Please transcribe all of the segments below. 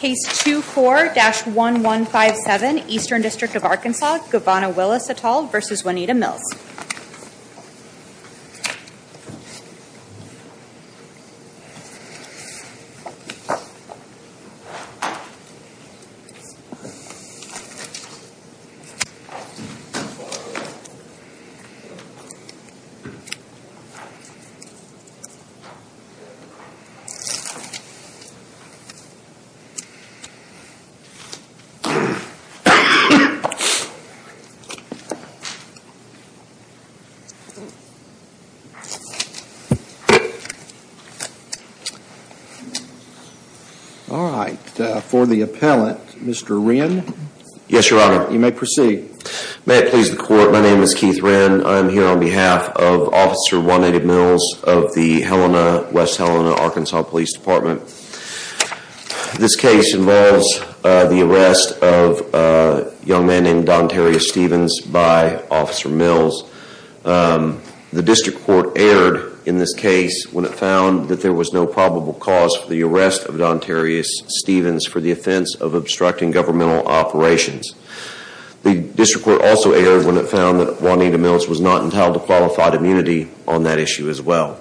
Case 24-1157, Eastern District of Arkansas, Gavonna Willis v. Juanita Mills All right. For the appellant, Mr. Wren. Yes, Your Honor. You may proceed. May it please the Court, my name is Keith Wren. I am here on behalf of Officer Juanita Mills of the West Helena, Arkansas Police Department. This case involves the arrest of a young man named Don Terrius Stevens by Officer Mills. The District Court erred in this case when it found that there was no probable cause for the arrest of Don Terrius Stevens for the offense of obstructing governmental operations. The District Court also erred when it found that Juanita Mills was not entitled to qualified immunity on that issue as well.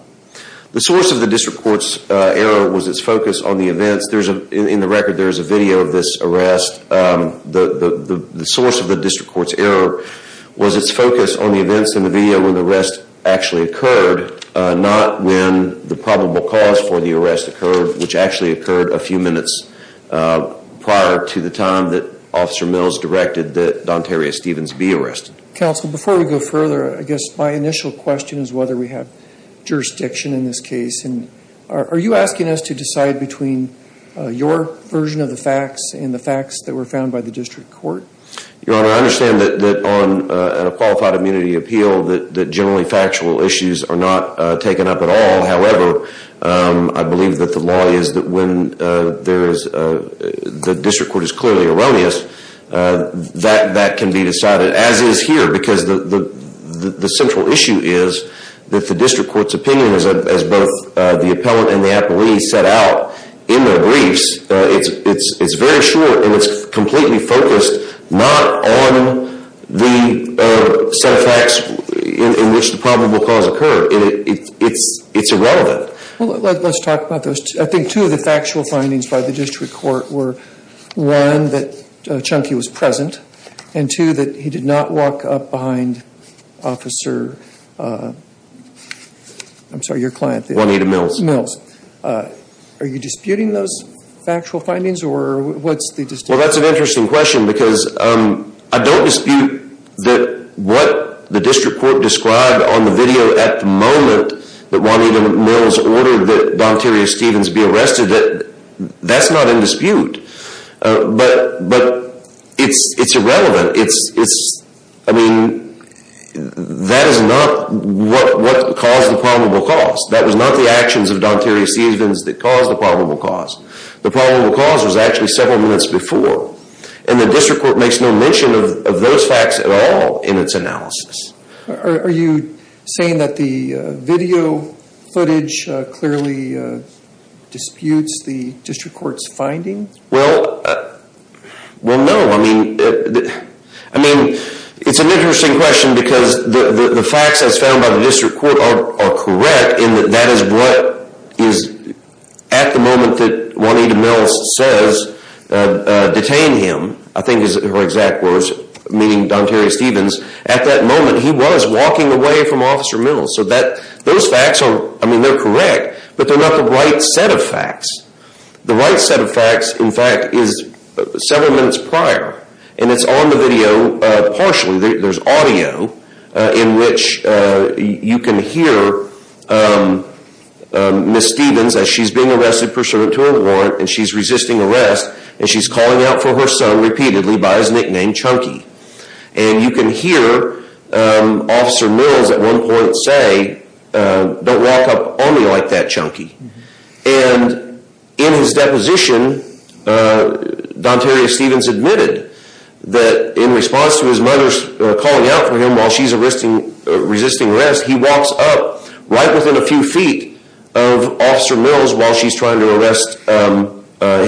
The source of the District Court's error was its focus on the events. In the record, there is a video of this arrest. The source of the District Court's error was its focus on the events in the video when the arrest actually occurred, not when the probable cause for the arrest occurred, which actually occurred a few minutes prior to the time that Officer Mills directed that Don Terrius Stevens be arrested. Counsel, before we go further, I guess my initial question is whether we have jurisdiction in this case. Are you asking us to decide between your version of the facts and the facts that were found by the District Court? Your Honor, I understand that on a qualified immunity appeal that generally factual issues are not taken up at all. However, I believe that the law is that when the District Court is clearly erroneous, that can be decided, as is here, because the central issue is that the District Court's opinion, as both the appellant and the appellee set out in their briefs, it's very short and it's completely focused not on the set of facts in which the probable cause occurred. It's irrelevant. Well, let's talk about those. I think two of the factual findings by the District Court were, one, that Chunky was present, and two, that he did not walk up behind Officer, I'm sorry, your client. Juanita Mills. Mills. Are you disputing those factual findings or what's the distinction? Well, that's an interesting question because I don't dispute that what the District Court described on the video at the moment that Juanita Mills ordered that Donterrio-Stevens be arrested. That's not in dispute, but it's irrelevant. I mean, that is not what caused the probable cause. That was not the actions of Donterrio-Stevens that caused the probable cause. The probable cause was actually several minutes before, and the District Court makes no mention of those facts at all in its analysis. Are you saying that the video footage clearly disputes the District Court's findings? Well, no. I mean, it's an interesting question because the facts as found by the District Court are correct in that that is what is at the moment that Juanita Mills says detained him, I think is her exact words, meaning Donterrio-Stevens. At that moment, he was walking away from Officer Mills. So those facts, I mean, they're correct, but they're not the right set of facts. The right set of facts, in fact, is several minutes prior, and it's on the video partially. There's audio in which you can hear Ms. Stevens as she walks up to her warrant, and she's resisting arrest, and she's calling out for her son repeatedly by his nickname, Chunky. And you can hear Officer Mills at one point say, don't walk up on me like that, Chunky. And in his deposition, Donterrio-Stevens admitted that in response to his mother's calling out for him while she's resisting arrest, he walks up right within a few feet of Officer Mills while she's trying to arrest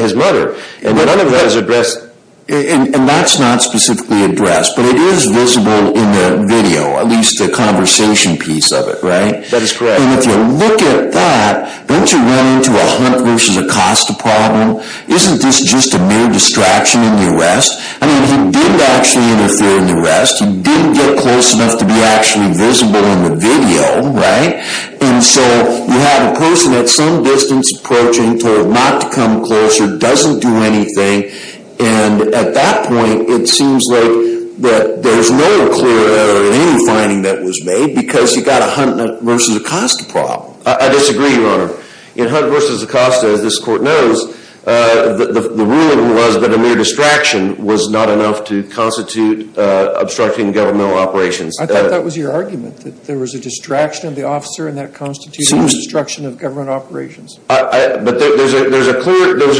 his mother. And none of that is addressed. And that's not specifically addressed, but it is visible in the video, at least the conversation piece of it, right? That is correct. And if you look at that, don't you run into a Hunt v. Acosta problem? Isn't this just a mere distraction in the arrest? I mean, he did actually interfere in the arrest. He didn't get close enough to be actually visible in the video, right? And so you have a person at some distance approaching, told not to come closer, doesn't do anything. And at that point, it seems like that there's no clear error in any finding that was made because you've got a Hunt v. Acosta problem. I disagree, Your Honor. In Hunt v. Acosta, as this Court knows, the ruling was that a mere distraction was not enough to constitute obstructing governmental operations. I thought that was your argument, that there was a distraction of the officer and that constitutes obstruction of government operations. But there was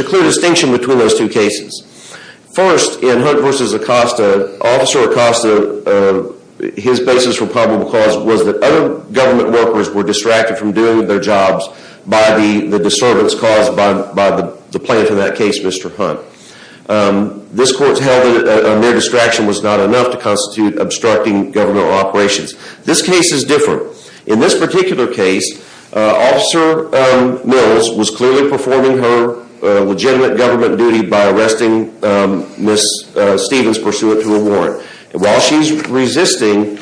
a clear distinction between those two cases. First, in Hunt v. Acosta, Officer Acosta, his basis for probable cause was that other government workers were distracted from doing their jobs by the disturbance caused by the plaintiff in that case, Mr. Hunt. This Court held that a mere distraction was not enough to constitute obstructing governmental operations. This case is different. In this particular case, Officer Mills was clearly performing her legitimate government duty by arresting Ms. Stevens pursuant to a warrant. While she's resisting,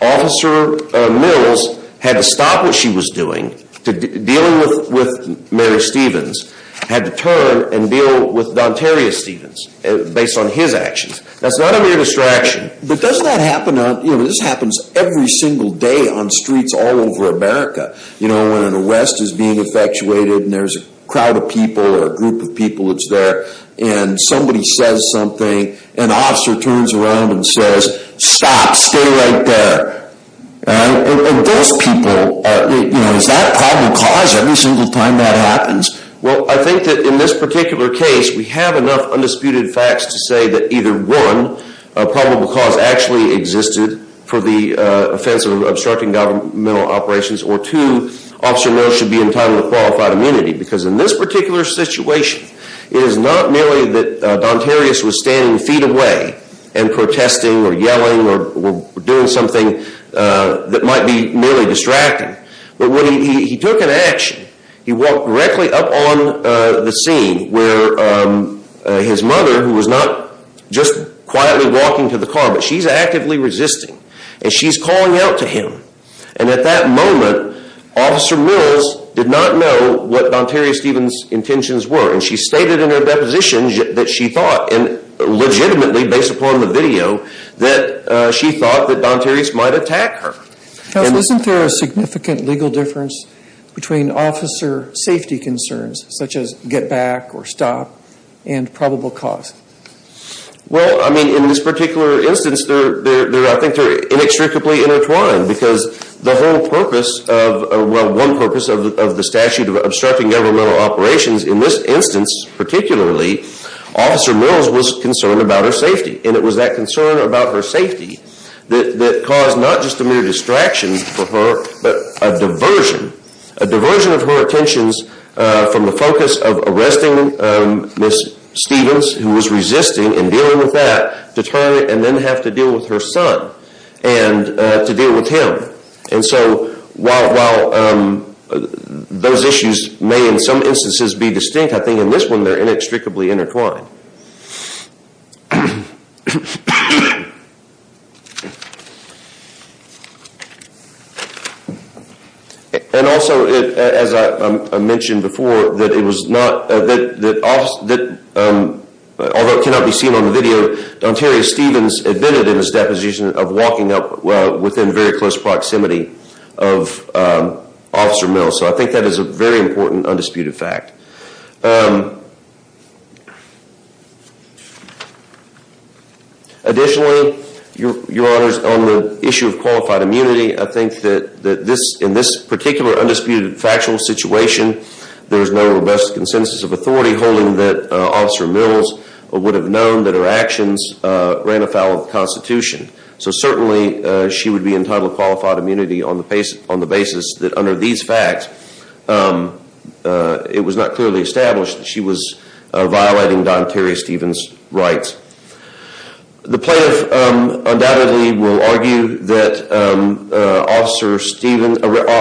Officer Mills had to stop what she was doing, dealing with Mary Stevens, had to turn and deal with Dontaria Sessions. But does that happen on, you know, this happens every single day on streets all over America. You know, when an arrest is being effectuated and there's a crowd of people or a group of people that's there and somebody says something, an officer turns around and says, stop, stay right there. And those people, you know, is that probable cause every single time that happens? Well, I think that in this particular case, we have enough undisputed facts to say that either one, probable cause actually existed for the offense of obstructing governmental operations or two, Officer Mills should be entitled to qualified immunity. Because in this particular situation, it is not merely that Dontaria was standing feet away and protesting or yelling or doing something that might be merely distracting. But when he took an action, he walked directly up on the scene where his mother, who was not just quietly walking to the car, but she's actively resisting and she's calling out to him. And at that moment, Officer Mills did not know what Dontaria Stevens' intentions were. And she stated in her deposition that she thought, and legitimately based upon the video, that she thought that Dontaria might attack her. Counsel, isn't there a significant legal difference between officer safety concerns, such as get back or stop, and probable cause? Well, I mean, in this particular instance, I think they're inextricably intertwined. Because the whole purpose of, well, one purpose of the statute of obstructing governmental operations, in this instance particularly, Officer Mills was concerned about her safety. And it was that concern about her safety that caused not just a mere distraction for her, but a diversion. A diversion of her attentions from the focus of arresting Miss Stevens, who was resisting and dealing with that, to turn and then have to deal with her son and to deal with him. And so while those issues may in some instances be distinct, I think in this one they're inextricably intertwined. And also, as I mentioned before, although it cannot be seen on the video, Dontaria Stevens admitted in his deposition of walking up within very close proximity of Officer Mills. So I think that is a very important undisputed fact. Additionally, Your Honors, on the issue of qualified immunity, I think that in this particular undisputed factual situation, there is no robust consensus of authority holding that Officer Mills would have known that her actions ran afoul of the Constitution. So certainly she would be entitled to qualified immunity on the basis that under these facts, it was not clearly established that she was violating Dontaria Stevens' rights. The plaintiff undoubtedly will argue that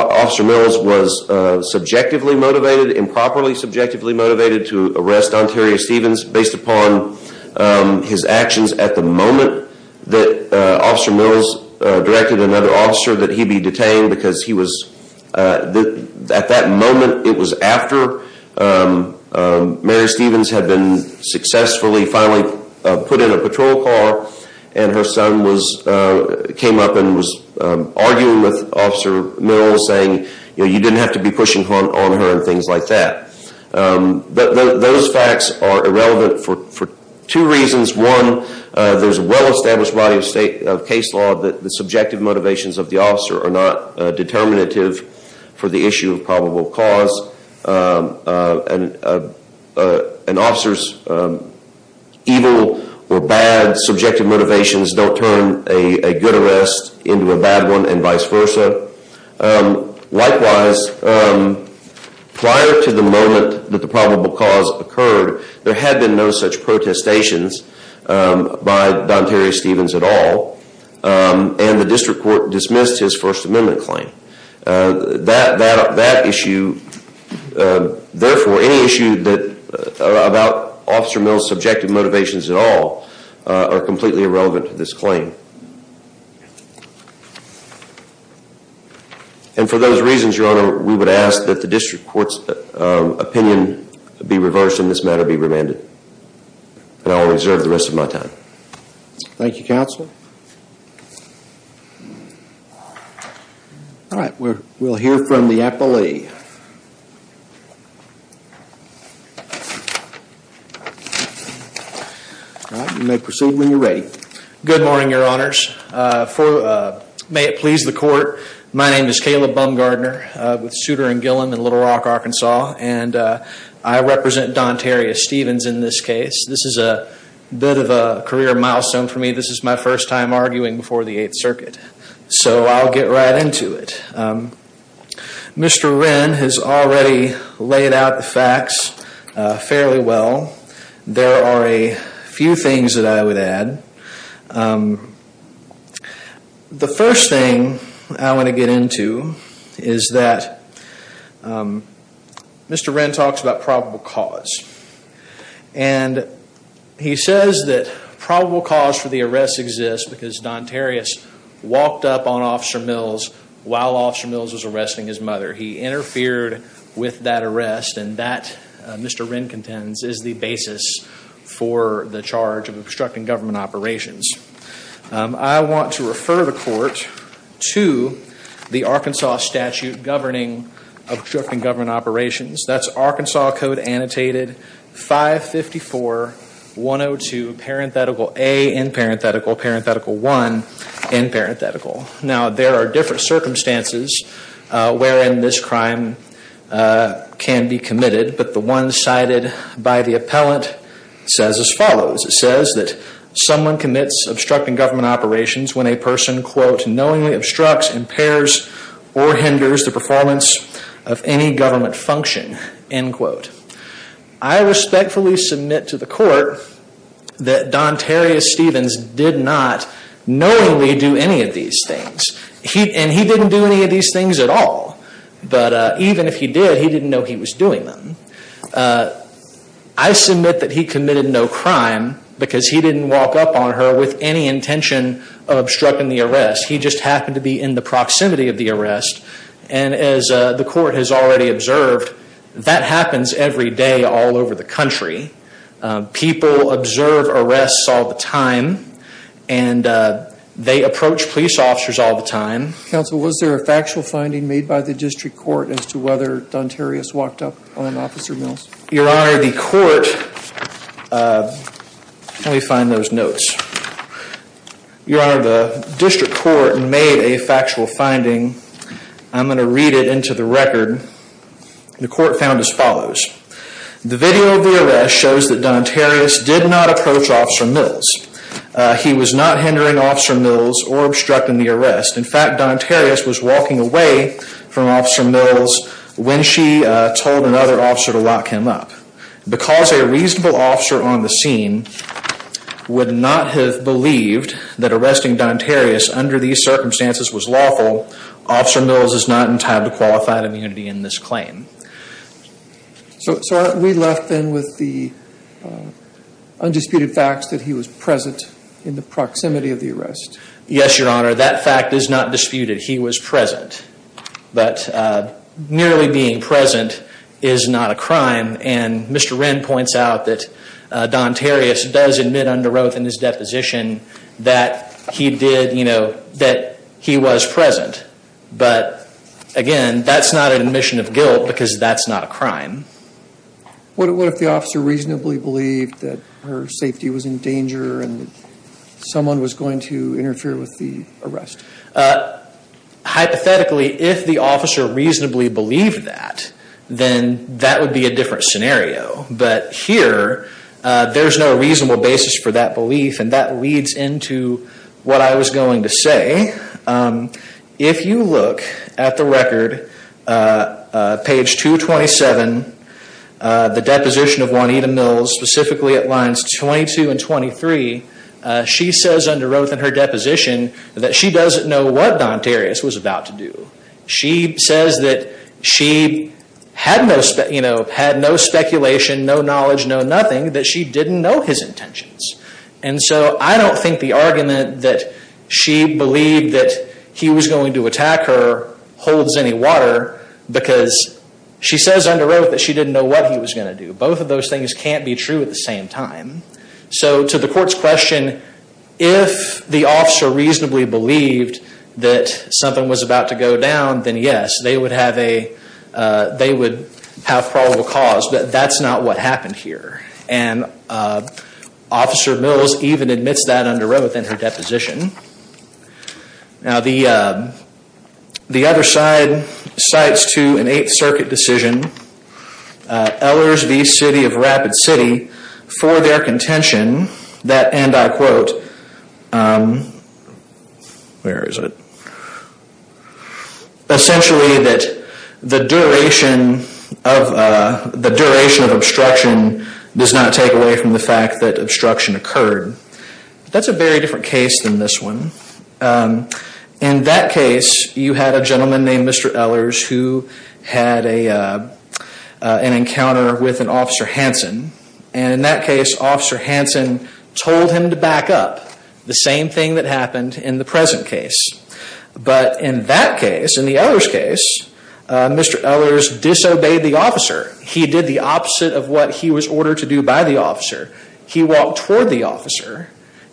Officer Mills was subjectively motivated, improperly subjectively motivated, to arrest Dontaria Stevens based upon his actions at the moment that Officer Mills directed another officer that he be detained because at that moment it was after Mary Stevens had been successfully finally put in a patrol car and her son came up and was arguing with Officer Mills saying you didn't have to be pushing on her and things like that. But those facts are irrelevant for two reasons. One, there is a well established body of case law that the subjective motivations of the officer are not determinative for the issue of probable cause. An officer's evil or bad subjective motivations don't turn a good arrest into a bad one and vice versa. Likewise, prior to the moment that the probable cause occurred, there had been no such protestations by Dontaria Stevens at all and the district court dismissed his First Amendment claim. That issue, therefore any issue about Officer Mills' subjective motivations at all are completely irrelevant to this claim. And for those reasons, Your Honor, we would ask that the district court's opinion be reversed and this matter be remanded. And I will reserve the rest of my time. Thank you, Counsel. All right, we'll hear from the appellee. All right, you may proceed when you're ready. Good morning, Your Honors. May it please the court, my name is Caleb Bumgardner with Souter and Gillom in Little Rock, Arkansas and I represent Dontaria Stevens in this case. This is a bit of a career milestone for me. This is my first time arguing before the Eighth Circuit, so I'll get right into it. Mr. Wren has already laid out the facts fairly well. There are a few things that I would add. The first thing I want to get into is that Mr. Wren talks about probable cause. And he says that probable cause for the arrest exists because Dontaria walked up on Officer Mills while Officer Mills was arresting his mother. He interfered with that arrest and that, Mr. Wren contends, is the basis for the charge of obstructing government operations. I want to refer the court to the Arkansas statute governing obstructing government operations. That's Arkansas Code Annotated 554-102 parenthetical A in parenthetical, parenthetical 1 in parenthetical. Now there are different circumstances wherein this crime can be committed, but the one cited by the appellant says as follows. It says that someone commits obstructing government operations when a person, quote, knowingly obstructs, impairs, or hinders the performance of any government function, end quote. I respectfully submit to the court that Dontaria Stevens did not knowingly do any of these things. And he didn't do any of these things at all. But even if he did, he didn't know he was doing them. I submit that he committed no crime because he didn't walk up on her with any intention of obstructing the arrest. He just happened to be in the proximity of the arrest. And as the court has already observed, that happens every day all over the country. People observe arrests all the time and they approach police officers all the time. Counsel, was there a factual finding made by the district court as to whether Dontaria walked up on Officer Mills? Your Honor, the court, let me find those notes. Your Honor, the district court made a factual finding. I'm going to read it into the record. The court found as follows. The video of the arrest shows that Dontaria did not approach Officer Mills. He was not hindering Officer Mills or obstructing the arrest. In fact, Dontaria was walking away from Officer Mills when she told another officer to lock him up. Because a reasonable officer on the scene would not have believed that arresting Dontaria under these circumstances was lawful, Officer Mills is not entitled to qualified immunity in this claim. So we're left then with the undisputed facts that he was present in the proximity of the arrest. Yes, Your Honor, that fact is not disputed. He was present. But nearly being present is not a crime. And Mr. Wren points out that Dontaria does admit under oath in his deposition that he did, you know, that he was present. But again, that's not an admission of guilt because that's not a crime. What if the officer reasonably believed that her safety was in danger and someone was going to interfere with the arrest? Hypothetically, if the officer reasonably believed that, then that would be a different scenario. But here, there's no reasonable basis for that belief and that leads into what I was going to say. If you look at the record, page 227, the deposition of Juanita Mills, specifically at lines 22 and 23, she says under oath in her deposition that she doesn't know what Dontaria was about to do. She says that she had no speculation, no knowledge, no nothing, that she didn't know his intentions. And so I don't think the argument that she believed that he was going to attack her holds any water because she says under oath that she didn't know what he was going to do. Both of those things can't be true at the same time. So to the court's question, if the officer reasonably believed that something was about to go down, then yes, they would have probable cause, but that's not what happened here. And Officer Mills even admits that under oath in her deposition. Now the other side cites to an Eighth Circuit decision, Ellers v. City of Rapid City, for their contention that, and I quote, essentially that the duration of obstruction does not take away from the fact that obstruction occurred. That's a very different case than this one. In that case, you had a gentleman named Mr. Ellers who had an encounter with an Officer Hanson. And in that case, Officer Hanson told him to back up. The same thing that happened in the present case. But in that case, in the Ellers case, Mr. Ellers disobeyed the officer. He did the opposite of what he was ordered to do by the officer. He walked toward the officer.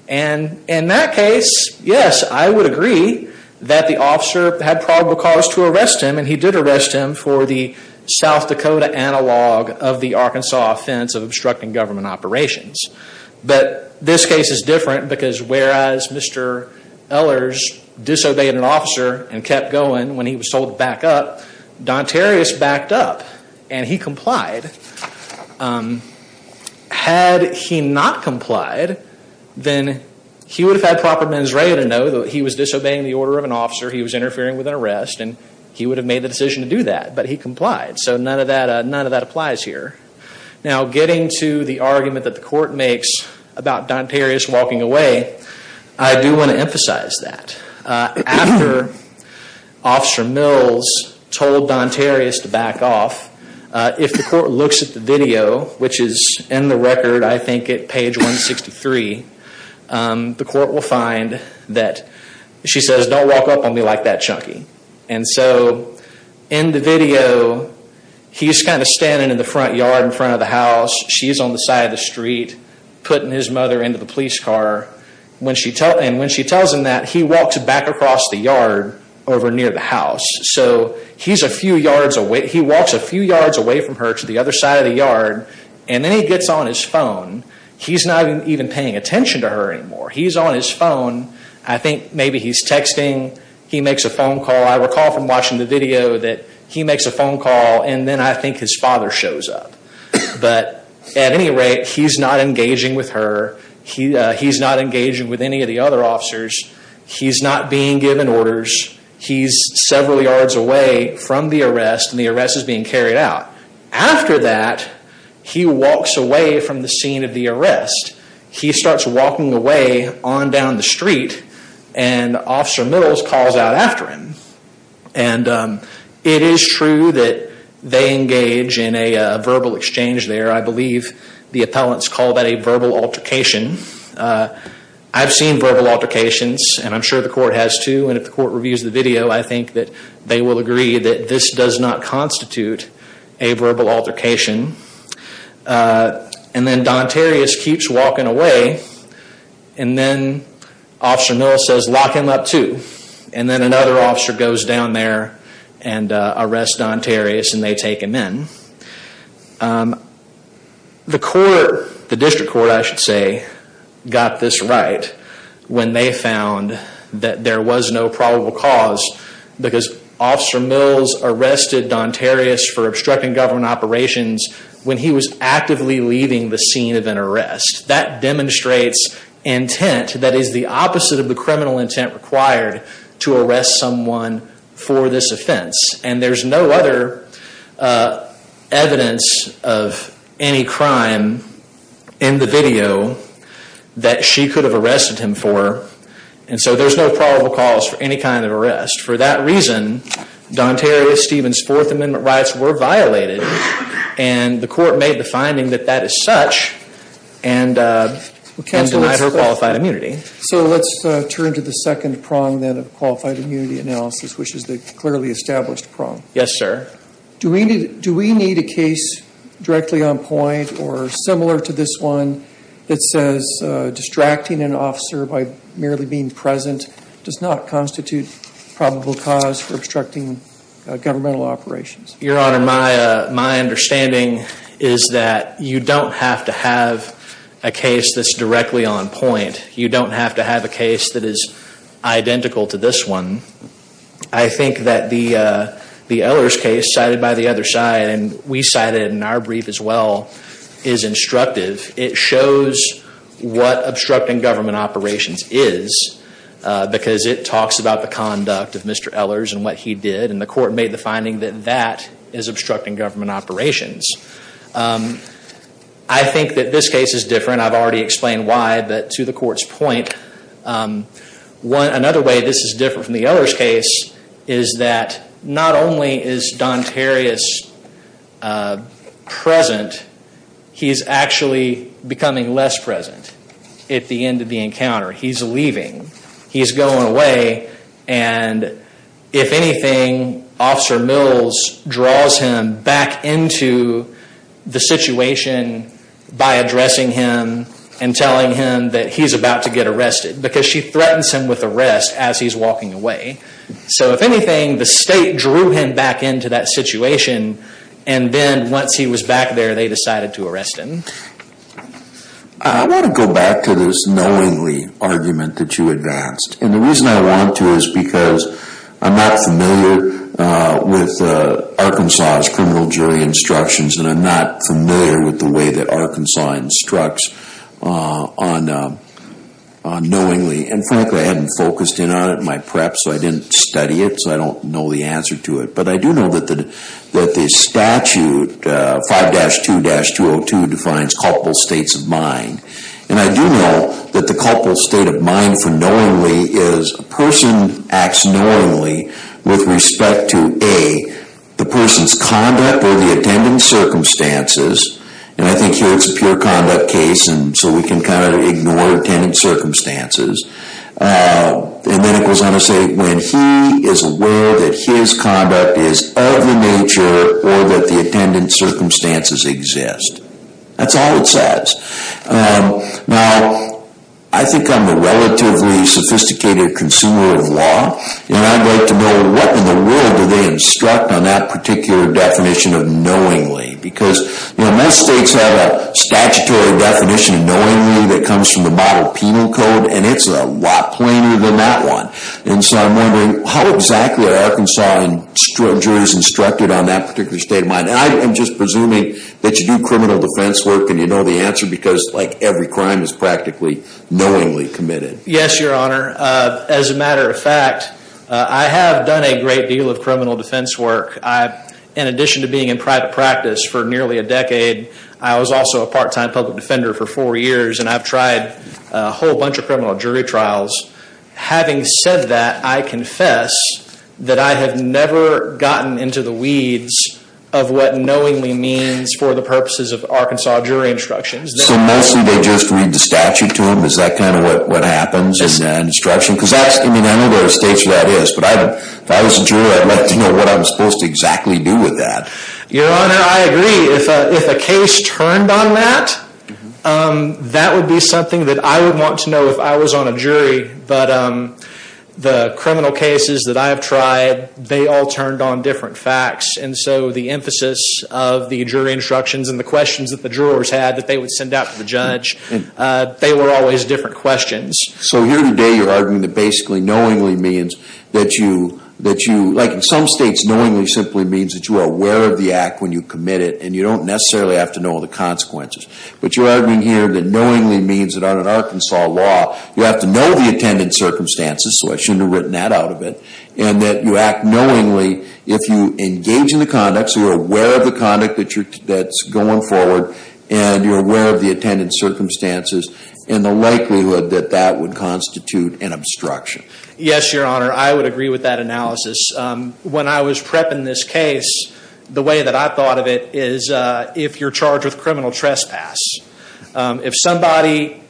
And in that case, yes, I would agree that the officer had probable cause to arrest him. And he did arrest him for the South Dakota analog of the Arkansas offense of obstructing government operations. But this case is different because whereas Mr. Ellers disobeyed an officer and kept going when he was told to back up, Dontarius backed up and he complied. Had he not complied, then he would have had proper mens rea to know that he was disobeying the order of an officer, he was interfering with an arrest, and he would have made the decision to do that. But he complied. So none of that applies here. Now getting to the argument that the court makes about Dontarius walking away, I do want to emphasize that. After Officer Mills told Dontarius to walk away, the court will find that she says, Don't walk up on me like that, Chunky. And so in the video, he's kind of standing in the front yard in front of the house. She's on the side of the street putting his mother into the police car. And when she tells him that, he walks back across the yard over near the house. So he's a few yards away. He walks a few yards away from her to the other side of the yard. And then he gets on his phone. He's not even paying attention to her anymore. He's on his phone. I think maybe he's texting. He makes a phone call. I recall from watching the video that he makes a phone call and then I think his father shows up. But at any rate, he's not engaging with her. He's not engaging with any of the other officers. He's not being given orders. He's several yards away from the arrest and the arrest is being carried out. After that, he walks away from the scene of the arrest. He starts walking away on down the street and Officer Mills calls out after him. And it is true that they engage in a verbal exchange there. I believe the appellants call that a verbal altercation. I've seen verbal altercations and I'm sure the court has too. And if the court reviews the video, I think that they will agree that this does not constitute a verbal altercation. And then Don Terrius keeps walking away and then Officer Mills says lock him up too. And then another officer goes down there and arrests Don Terrius and they take him in. The court, the district court I should say, got this right when they found that there was no probable cause because Officer Mills arrested Don Terrius for obstructing government operations when he was actively leaving the scene of an arrest. That demonstrates intent that is the opposite of the criminal intent required to arrest someone for this offense. And there's no other evidence of any crime in the video that she could have arrested him for. And so there's no probable cause for any kind of arrest. For that reason, Don Terrius' Fourth Amendment rights were violated and the court made the finding that that is such and denied her qualified immunity. So let's turn to the second prong then of qualified immunity analysis, which is the clearly established prong. Yes, sir. Do we need a case directly on point or similar to this one that says distracting an officer by merely being present does not constitute probable cause for obstructing governmental operations? Your Honor, my understanding is that you don't have to have a case that's directly on point. You don't have to have a case that is identical to this one. I think that the Ehlers case cited by the other side and we cited in our brief as well is instructive. It shows what obstructing government operations is because it talks about the conduct of Mr. Ehlers and what he did. And the court made the finding that that is obstructing government operations. I think that this case is different. I've already explained why, but to the court's point, another way this is different from the Ehlers case is that not only is Don Terrius present, he's actually becoming less present at the end of the encounter. He's leaving. He's going away and if anything, Officer Mills draws him back into the situation by addressing him and telling him that he's about to get arrested because she threatens him with arrest as he's walking away. So if anything, the state drew him back into that situation and then once he was back there, they decided to arrest him. I want to go back to this knowingly argument that you advanced. And the reason I want to is because I'm not familiar with Arkansas' criminal jury instructions and I'm not familiar with the way that Arkansas instructs on knowingly. And frankly, I haven't focused in on it in my prep, so I didn't study it, so I don't know the answer to it. But I do know that the statute 5-2-202 defines culpable states of mind. And I do know that the culpable state of mind for knowingly is a person acts knowingly with respect to A, the person's conduct or the attendant circumstances. And I think here it's a pure conduct case, so we can kind of ignore attendant circumstances. And then it goes on to say when he is aware that his conduct is of the nature or that the attendant circumstances exist. That's all it says. Now, I think I'm a relatively sophisticated consumer of law, and I'd like to know what in the world do they instruct on that particular definition of knowingly? Because most states have a statutory definition of knowingly that comes from the model penal code, and it's a lot plainer than that one. And so I'm wondering how exactly are Arkansas jurors instructed on that particular state of mind? And I'm just assuming that you do criminal defense work and you know the answer because like every crime is practically knowingly committed. Yes, your honor. As a matter of fact, I have done a great deal of criminal defense work. In addition to being in private practice for nearly a decade, I was also a part-time public defender for four years, and I've tried a whole bunch of criminal jury trials. Having said that, I confess that I have never gotten into the weeds of what knowingly means for the purposes of Arkansas jury instructions. So mostly they just read the statute to them? Is that kind of what happens in instruction? Because that's, I mean, I know there are states where that is, but if I was a juror, I'd like to know what I'm supposed to exactly do with that. Your honor, I agree. If a case turned on that, that would be something that I would want to know if I was on a jury. But the criminal cases that I have tried, they all turned on different facts. And so the emphasis of the jury instructions and the questions that the jurors had that they would send out to the judge, they were always different questions. So here today you're arguing that basically knowingly means that you, like in some states, knowingly simply means that you are aware of the act when you commit it, and you don't necessarily have to know all the consequences. But you're arguing here that knowingly means that on an Arkansas law, you have to know the attendant circumstances, so I shouldn't have written that out of it, and that you act knowingly if you engage in the conduct, so you're aware of the conduct that's going forward, and you're aware of the attendant circumstances, and the likelihood that that would constitute an obstruction. Yes, your honor, I would agree with that analysis. When I was prepping this case, the way that I thought of it is if you're charged with criminal trespass, if somebody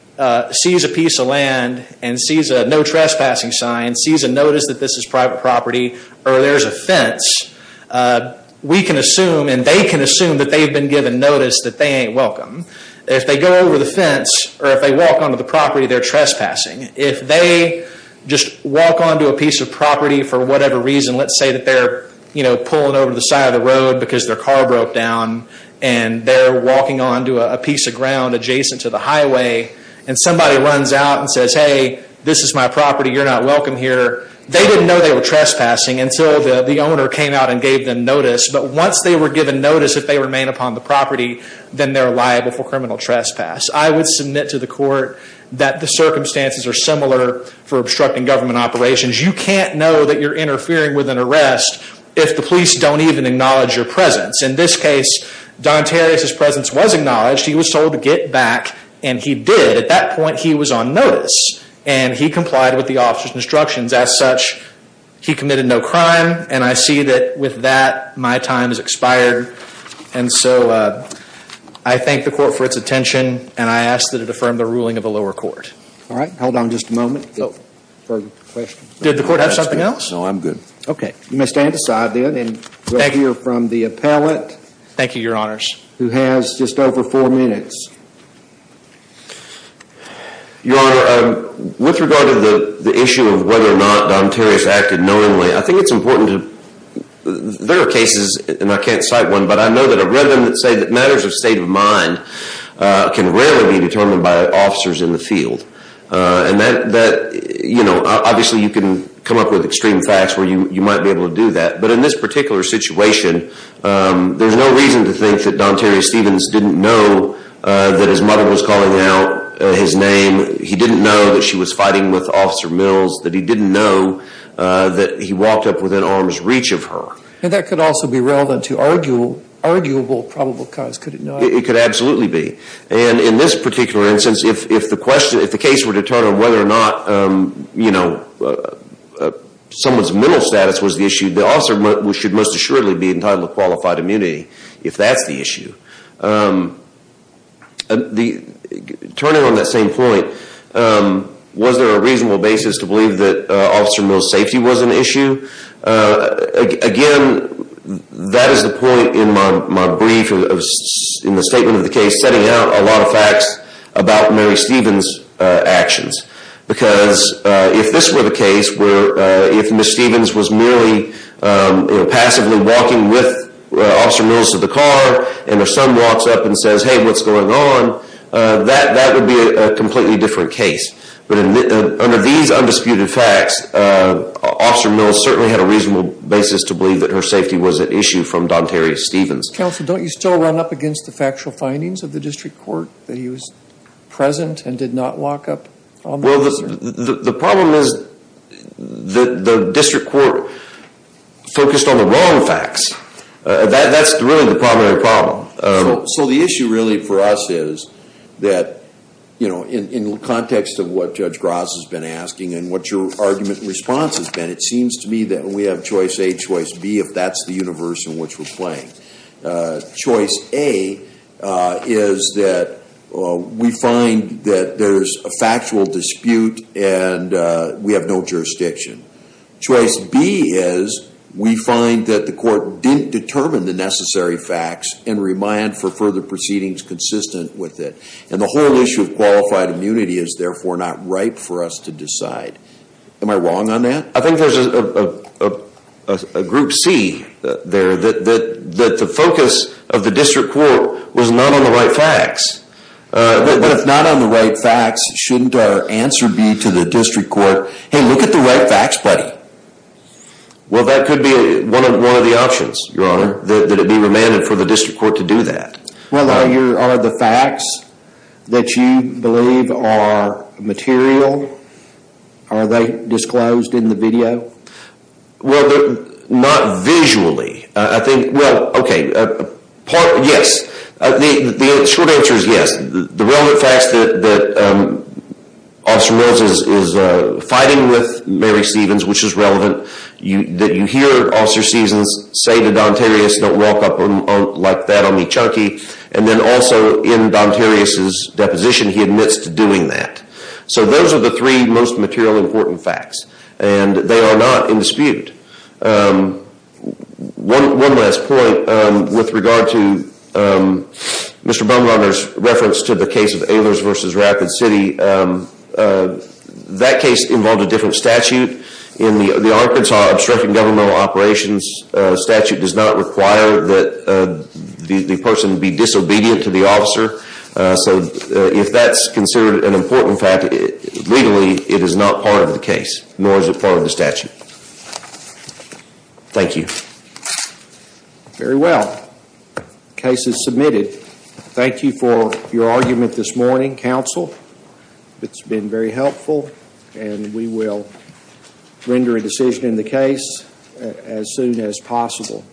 sees a piece of land and sees a no trespassing sign, sees a notice that this is private property, or there's a fence, we can assume, and they can assume that they've been given notice that they ain't welcome. If they go over the fence, or if they walk onto the property, they're trespassing. If they just walk onto a piece of property for whatever reason, let's say that they're pulling over to the side of the road because their car broke down, and they're walking onto a piece of ground adjacent to the highway, and somebody runs out and says, hey, this is my property, you're not welcome here. They didn't know they were trespassing until the owner came out and gave them notice, but once they were given notice if they remain upon the property, then they're liable for criminal trespass. I would submit to the court that the circumstances are similar for obstructing government operations. You can't know that you're interfering with an arrest if the police don't even acknowledge your presence. In this case, Don Terrius' presence was acknowledged. He was told to get back, and he did. At that point, he was on notice, and he complied with the officer's instructions. As such, he committed no crime, and I see that with that, my time has expired. And so, I thank the court for its attention, and I ask that it affirm the ruling of the lower court. Alright, hold on just a moment. Did the court have something else? No, I'm good. Okay, you may stand aside then, and we'll hear from the appellate. Thank you, Your Honors. Who has just over four minutes. Your Honor, with regard to the issue of whether or not Don Terrius acted knowingly, I think it's important to there are cases, and I can't cite one, but I know that I've read them that say that matters of state of mind can rarely be determined by officers in the field. And that, you know, obviously you can come up with extreme facts where you might be able to do that. But in this particular situation, there's no reason to think that Don Terrius Stevens didn't know that his mother was calling out his name, he didn't know that she was fighting with Officer Mills, that he didn't know that he walked up within arm's reach of her. And that could also be relevant to arguable probable cause, could it not? It could absolutely be. And in this particular instance, if the case were to turn on whether or not, you know, someone's mental status was the issue, the officer should most assuredly be entitled to qualified immunity if that's the issue. Turning on that same point, was there a reasonable basis to believe that Officer Mills' safety was an issue? Again, that is the point in my brief, in the statement of the case, setting out a lot of facts about Mary Stevens' actions. Because if this were the case, where if Ms. Stevens was merely passively walking with Officer Mills to the car, and her son walks up and says, hey, what's going on? That would be a completely different case. But under these undisputed facts, Officer Mills certainly had a reasonable basis to believe that her safety was an issue from Don Terrius Stevens. Counsel, don't you still run up against the factual findings of the district court that he was present and did not walk up? Well, the problem is the district court focused on the wrong facts. That's really the primary problem. So the issue really for us is that, you know, in context of what Judge Gross has been asking and what your argument and response has been, it seems to me that we have choice A, choice B, if that's the universe in which we're playing. Choice A is that we find that there's a factual dispute and we have no jurisdiction. Choice B is we find that the court didn't determine the necessary facts and remand for further proceedings consistent with it. And the whole issue of qualified immunity is therefore not ripe for us to decide. Am I wrong on that? I think there's a group C there, that the focus of the district court was not on the right facts. But if not on the right facts, shouldn't our answer be to the district court, hey, look at the right facts, buddy. Well, that could be one of the options, Your Honor, that it be remanded for the district court to do that. Well, are the facts that you believe are material, are they disclosed in the video? Well, not visually. I think, well, okay, yes. The short answer is yes. The relevant facts that Officer Mills is fighting with Mary Stevens, which is relevant, that you hear Officer Stevens say to Don Terrius, don't walk up like that on me, chunky. And then also in Don Terrius's deposition, he admits to doing that. So those are the three most material important facts. And they are not in dispute. One last point with regard to Mr. Bumgarner's reference to the case of Ehlers versus Rapid City, that case involved a different statute. In the Arkansas Obstructing Governmental Operations statute does not require that the person be disobedient to the officer. So if that's considered an important fact, legally it is not part of the case, nor is it part of the statute. Thank you. Very well. The case is submitted. Thank you for your argument this morning, counsel. It's been very helpful. And we will render a decision in the case as soon as possible.